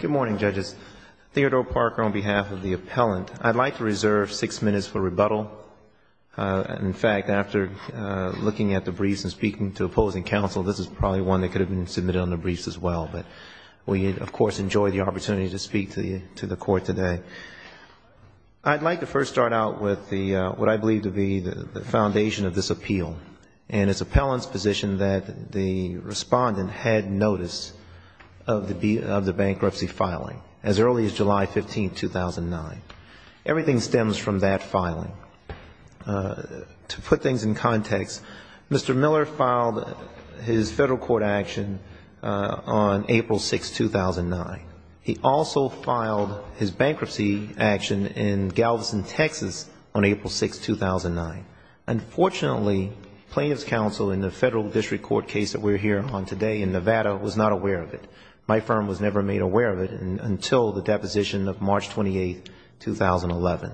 Good morning, judges. Theodore Parker on behalf of the appellant. I'd like to reserve six minutes for rebuttal. In fact, after looking at the briefs and speaking to opposing counsel, this is probably one that could have been submitted on the briefs as well, but we, of course, enjoy the opportunity to speak to the court today. I'd like to first start out with what I believe to be the foundation of this appeal and its appellant's position that the respondent had notice of the bankruptcy filing as early as July 15, 2009. Everything stems from that filing. To put things in context, Mr. Miller filed his federal court action on April 6, 2009. He also filed his bankruptcy action in Galveston, Texas on April 6, 2009. Unfortunately, plaintiff's counsel in the federal district court case that we're here on today in Nevada was not aware of it. My firm was never made aware of it until the deposition of March 28, 2011.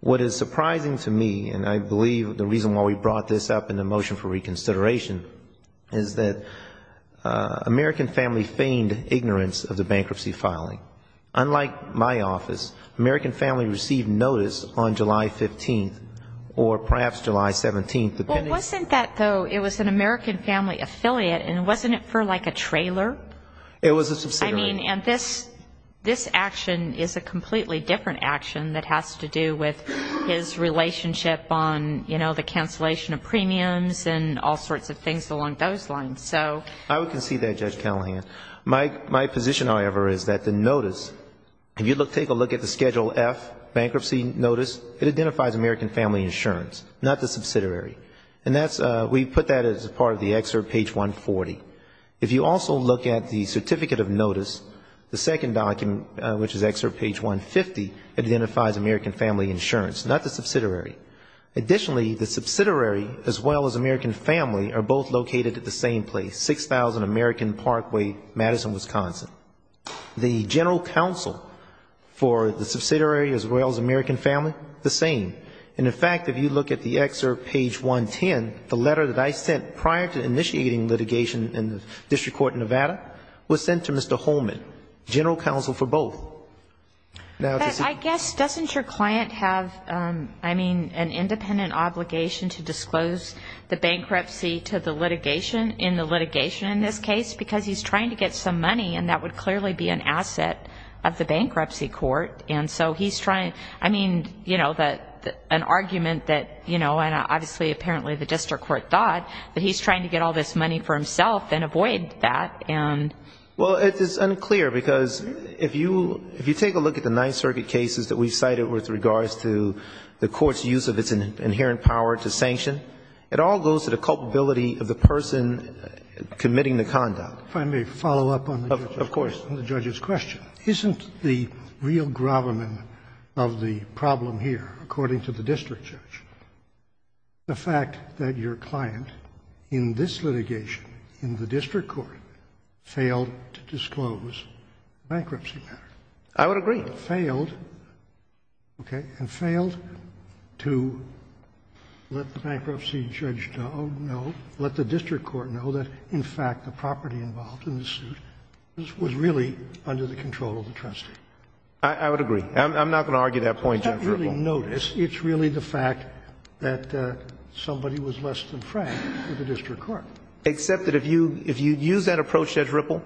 What is surprising to me, and I believe the reason why we brought this up in the motion for reconsideration, is that American Family feigned ignorance of the bankruptcy filing. Unlike my office, American Family received notice on July 15th, or perhaps July 17th. But wasn't that, though, it was an American Family affiliate, and wasn't it for, like, a trailer? It was a subsidiary. I mean, and this action is a completely different action that has to do with his relationship on, you know, the cancellation of premiums and all sorts of things along those lines. I would concede that, Judge Callahan. My position, however, is that the notice, if you take a look at the Schedule F bankruptcy notice, it identifies American Family insurance, not the subsidiary. And we put that as part of the excerpt, page 140. If you also look at the Certificate of Notice, the second document, which is excerpt page 150, it identifies American Family insurance, not the subsidiary. Additionally, the subsidiary, as well as American Family, are both located at the same place, 6000 American Parkway, Madison, Wisconsin. The general counsel for the subsidiary, as well as American Family, the same. And, in fact, if you look at the excerpt, page 110, the letter that I sent prior to initiating litigation in the district court in Nevada was sent to Mr. Holman, general counsel for both. Now, to see the... And so he's trying, I mean, you know, an argument that, you know, and obviously apparently the district court thought that he's trying to get all this money for himself and avoid that, and... Well, it's unclear, because if you take a look at the Ninth Circuit cases that we've cited with regards to the court's use of its inherent power to sanction, it all goes to the culpability of the person committing the conduct. If I may follow up on the judge's question. Of course. Isn't the real gravamen of the problem here, according to the district judge, the fact that your client in this litigation, in the district court, failed to disclose the bankruptcy matter? I would agree. Failed, okay, and failed to let the bankruptcy judge know, let the district court know that, in fact, the property involved in this suit was really under the control of the trustee. I would agree. I'm not going to argue that point, Judge Ripple. I can't really notice. It's really the fact that somebody was less than frank with the district court. Except that if you use that approach, Judge Ripple,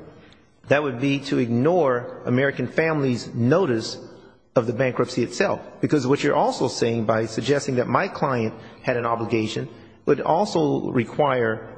that would be to ignore American family's notice of the bankruptcy itself, because what you're also saying by suggesting that my client had an obligation would also require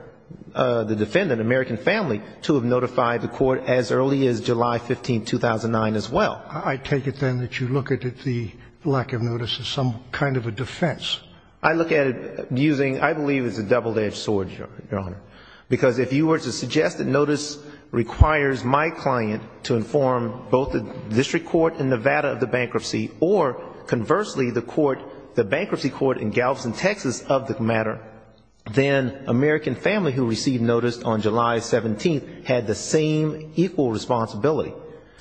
the defendant, American family, to have notified the court as early as July 15, 2009, as well. I take it, then, that you look at the lack of notice as some kind of a defense. I look at it using, I believe it's a double-edged sword, Your Honor, because if you were to suggest that notice requires my client to inform both the district court in Nevada of the bankruptcy or, conversely, the bankruptcy court in Galveston, Texas, of the matter, then American family who received notice on July 17th had the same equal responsibility.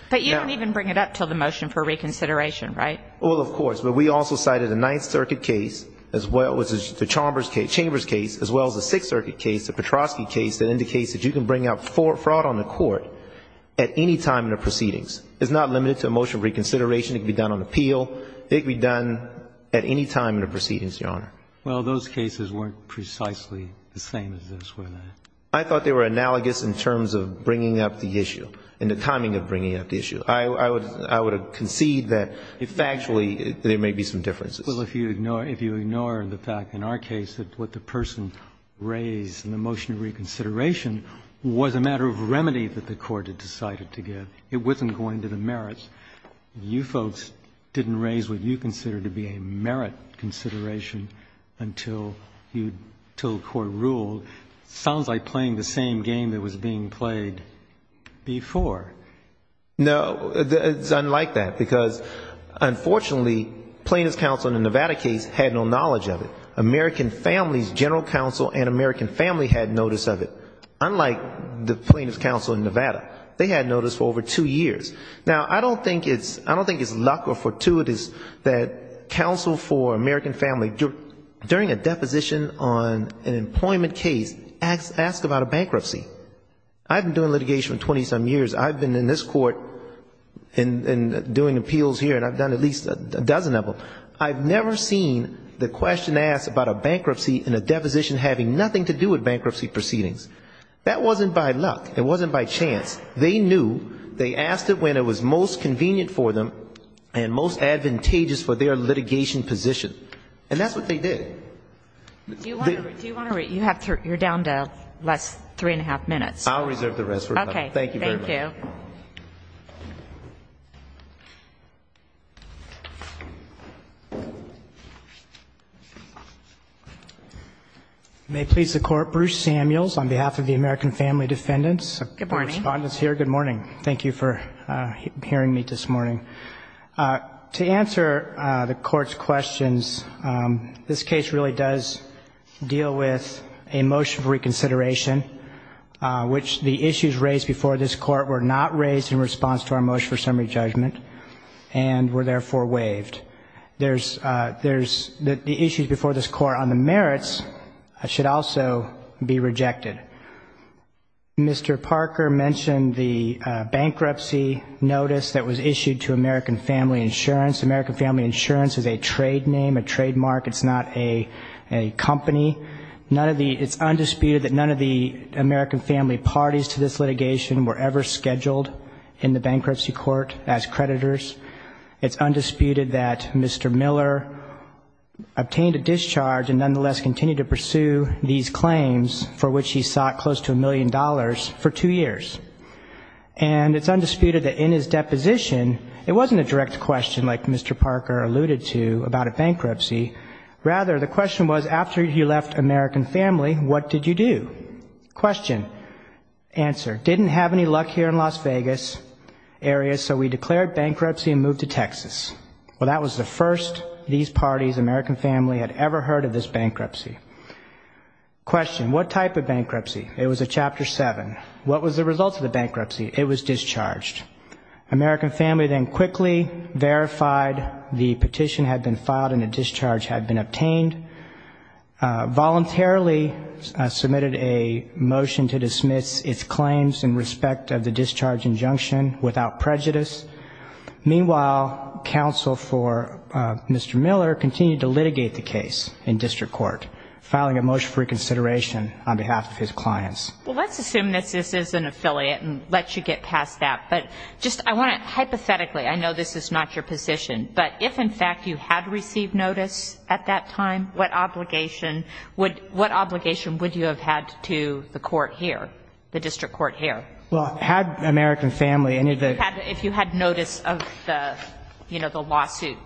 But you don't even bring it up until the motion for reconsideration, right? Well, of course. But we also cited a Ninth Circuit case, as well as the Chambers case, as well as the Sixth Circuit case, the Petrosky case, that indicates that you can bring up fraud on the court at any time in the proceedings. It's not limited to a motion of reconsideration. It can be done on appeal. It can be done at any time in the proceedings, Your Honor. Well, those cases weren't precisely the same as this, were they? I thought they were analogous in terms of bringing up the issue and the timing of bringing up the issue. I would concede that, factually, there may be some differences. Well, if you ignore the fact, in our case, that what the person raised in the motion of reconsideration was a matter of remedy that the court had decided to give. It wasn't going to the merits. You folks didn't raise what you considered to be a merit consideration until the court ruled. It sounds like playing the same game that was being played before. No. It's unlike that. Because, unfortunately, plaintiff's counsel in the Nevada case had no knowledge of it. American families, general counsel and American family had notice of it, unlike the plaintiff's counsel in Nevada. They had notice for over two years. Now, I don't think it's luck or fortuitous that counsel for American family, during a deposition on an employment case, asks about a bankruptcy. I've been doing litigation for 20-some years. I've been in this court and doing appeals here, and I've done at least a dozen of them. I've never seen the question asked about a bankruptcy in a deposition having nothing to do with bankruptcy proceedings. That wasn't by luck. It wasn't by chance. They knew. They asked it when it was most convenient for them and most advantageous for their litigation position. And that's what they did. Do you want to read? You're down to less than three-and-a-half minutes. I'll reserve the rest for tonight. Okay. Thank you very much. Thank you. May it please the Court, Bruce Samuels, on behalf of the American Family Defendants. Good morning. The Respondent is here. Good morning. Thank you for hearing me this morning. To answer the Court's questions, this case really does deal with a motion for reconsideration, which the issues raised before this Court were not raised in response to our motion for summary judgment. And were therefore waived. The issues before this Court on the merits should also be rejected. Mr. Parker mentioned the bankruptcy notice that was issued to American Family Insurance. American Family Insurance is a trade name, a trademark. It's not a company. It's undisputed that none of the American Family parties to this litigation were ever scheduled in the bankruptcy court as creditors. It's undisputed that Mr. Miller obtained a discharge and nonetheless continued to pursue these claims for which he sought close to a million dollars for two years. And it's undisputed that in his deposition, it wasn't a direct question like Mr. Parker alluded to about a bankruptcy. Rather, the question was, after he left American Family, what did you do? Question. Answer. Didn't have any luck here in Las Vegas area, so we declared bankruptcy and moved to Texas. Well, that was the first these parties, American Family, had ever heard of this bankruptcy. Question. What type of bankruptcy? It was a Chapter 7. What was the result of the bankruptcy? It was discharged. American Family then quickly verified the petition had been filed and a discharge had been obtained. Voluntarily submitted a motion to dismiss its claims in respect of the discharge injunction without prejudice. Meanwhile, counsel for Mr. Miller continued to litigate the case in district court, filing a motion for reconsideration on behalf of his clients. Well, let's assume this is an affiliate and let you get past that. But just I want to hypothetically, I know this is not your position, but if, in fact, you had received notice at that time, what obligation would you have had to the court here, the district court here? Well, had American Family any of the... If you had notice of the, you know, the lawsuit.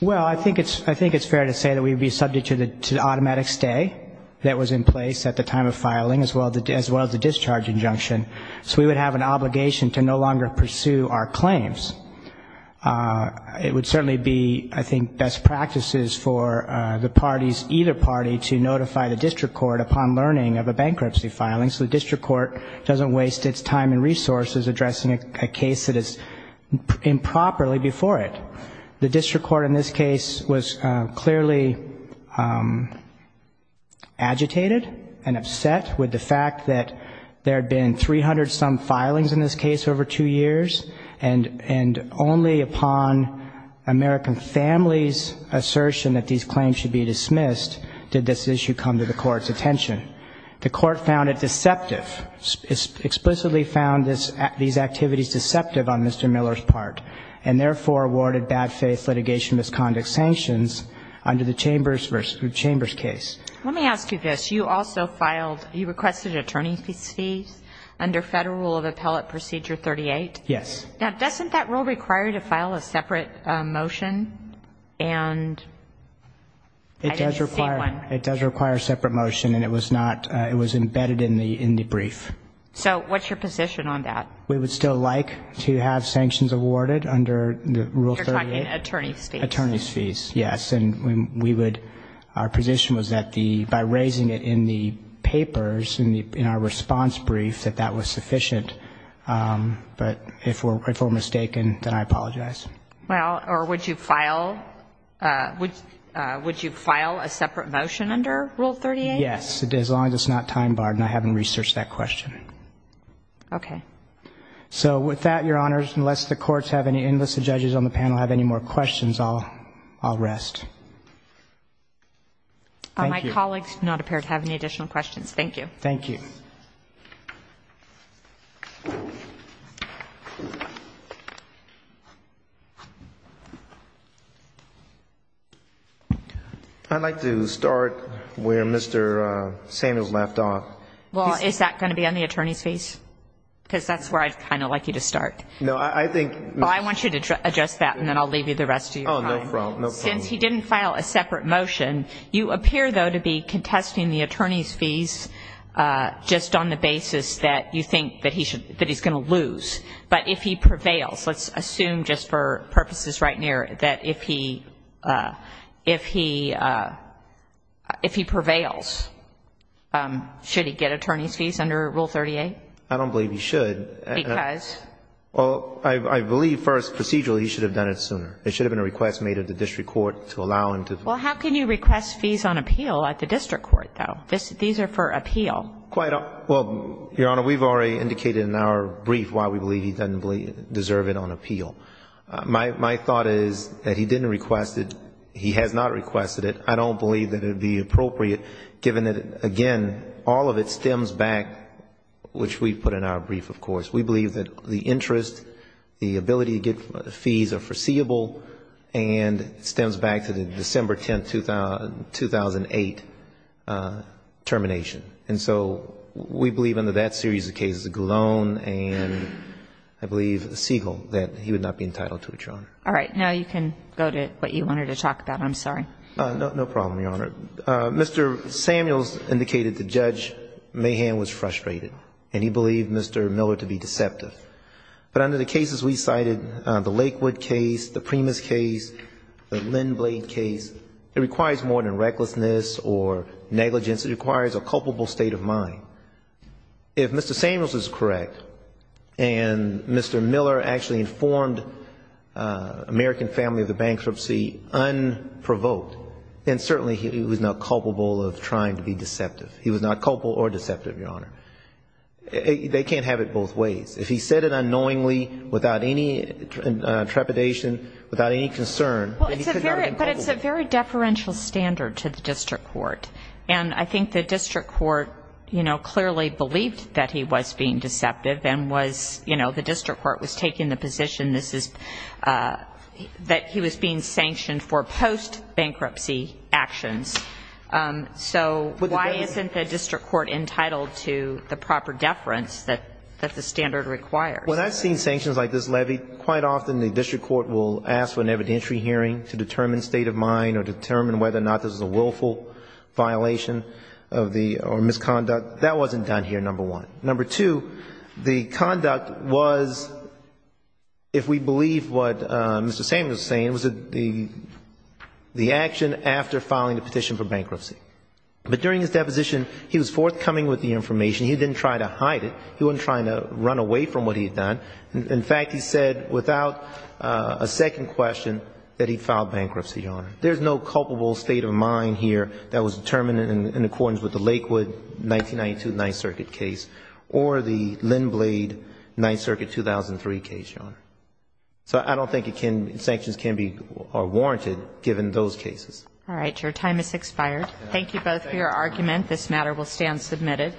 Well, I think it's fair to say that we would be subject to the automatic stay that was in place at the time of filing, as well as the discharge injunction. So we would have an obligation to no longer pursue our claims. It would certainly be, I think, best practices for the parties, either party to notify the district court upon learning of a bankruptcy filing so the district court doesn't waste its time and resources addressing a case that is improperly before it. The district court in this case was clearly agitated and upset with the fact that there had been 300-some filings in this case over two years, and only upon American Family's assertion that these claims should be dismissed did this issue come to the court's attention. The court found it deceptive, explicitly found these activities deceptive on Mr. Miller's part, and therefore awarded bad-faith litigation misconduct sanctions under the Chambers case. Let me ask you this. You also filed, you requested attorney's fees under Federal Rule of Appellate Procedure 38? Yes. Now, doesn't that rule require you to file a separate motion? It does require a separate motion, and it was not, it was embedded in the brief. So what's your position on that? We would still like to have sanctions awarded under Rule 38. You're talking attorney's fees. Attorney's fees, yes, and we would, our position was that by raising it in the papers, in our response brief, that that was sufficient. But if we're mistaken, then I apologize. Well, or would you file, would you file a separate motion under Rule 38? Yes, as long as it's not time barred, and I haven't researched that question. Okay. So with that, Your Honors, unless the courts have any, unless the judges on the panel have any more questions, I'll rest. Thank you. Thank you. I'd like to start where Mr. Samuels left off. Well, is that going to be on the attorney's fees? Because that's where I'd kind of like you to start. No, I think. Well, I want you to adjust that, and then I'll leave you the rest of your time. Oh, no problem. Since he didn't file a separate motion, you appear, though, to be contesting the attorney's fees just on the basis that you think that he's going to lose. But if he prevails, let's assume just for purposes right near, that if he prevails, should he get attorney's fees under Rule 38? I don't believe he should. Because? Well, I believe first procedurally he should have done it sooner. It should have been a request made at the district court to allow him to. Well, how can you request fees on appeal at the district court, though? These are for appeal. Well, Your Honor, we've already indicated in our brief why we believe he doesn't deserve it on appeal. My thought is that he didn't request it. He has not requested it. I don't believe that it would be appropriate, given that, again, all of it stems back, which we've put in our brief, of course. We believe that the interest, the ability to get fees are foreseeable, and it stems back to the December 10, 2008, termination. And so we believe under that series of cases, Galone and, I believe, Siegel, that he would not be entitled to it, Your Honor. All right. Now you can go to what you wanted to talk about. I'm sorry. No problem, Your Honor. Mr. Samuels indicated that Judge Mahan was frustrated, and he believed Mr. Miller to be deceptive. But under the cases we cited, the Lakewood case, the Primus case, the Lindblad case, it requires more than recklessness or negligence. It requires a culpable state of mind. If Mr. Samuels is correct, and Mr. Miller actually informed American family of the bankruptcy unprovoked, then certainly he was not culpable of trying to be deceptive. He was not culpable or deceptive, Your Honor. They can't have it both ways. If he said it unknowingly, without any trepidation, without any concern, then he could not have been culpable. But it's a very deferential standard to the district court. And I think the district court, you know, clearly believed that he was being deceptive and was, you know, the district court was taking the position that he was being sanctioned for post-bankruptcy actions. So why isn't the district court entitled to the proper deference that the standard requires? When I've seen sanctions like this levied, quite often the district court will ask for an evidentiary hearing to determine state of mind or determine whether or not this is a willful violation or misconduct. That wasn't done here, number one. Number two, the conduct was, if we believe what Mr. Samuels was saying, it was the action after filing the petition for bankruptcy. But during his deposition, he was forthcoming with the information. He didn't try to hide it. He wasn't trying to run away from what he had done. In fact, he said without a second question that he filed bankruptcy, Your Honor. There's no culpable state of mind here that was determined in accordance with the Lakewood 1992 Ninth Circuit case or the Lynn Blade Ninth Circuit 2003 case, Your Honor. So I don't think sanctions can be warranted given those cases. All right. Your time has expired. Thank you both for your argument. This matter will stand submitted.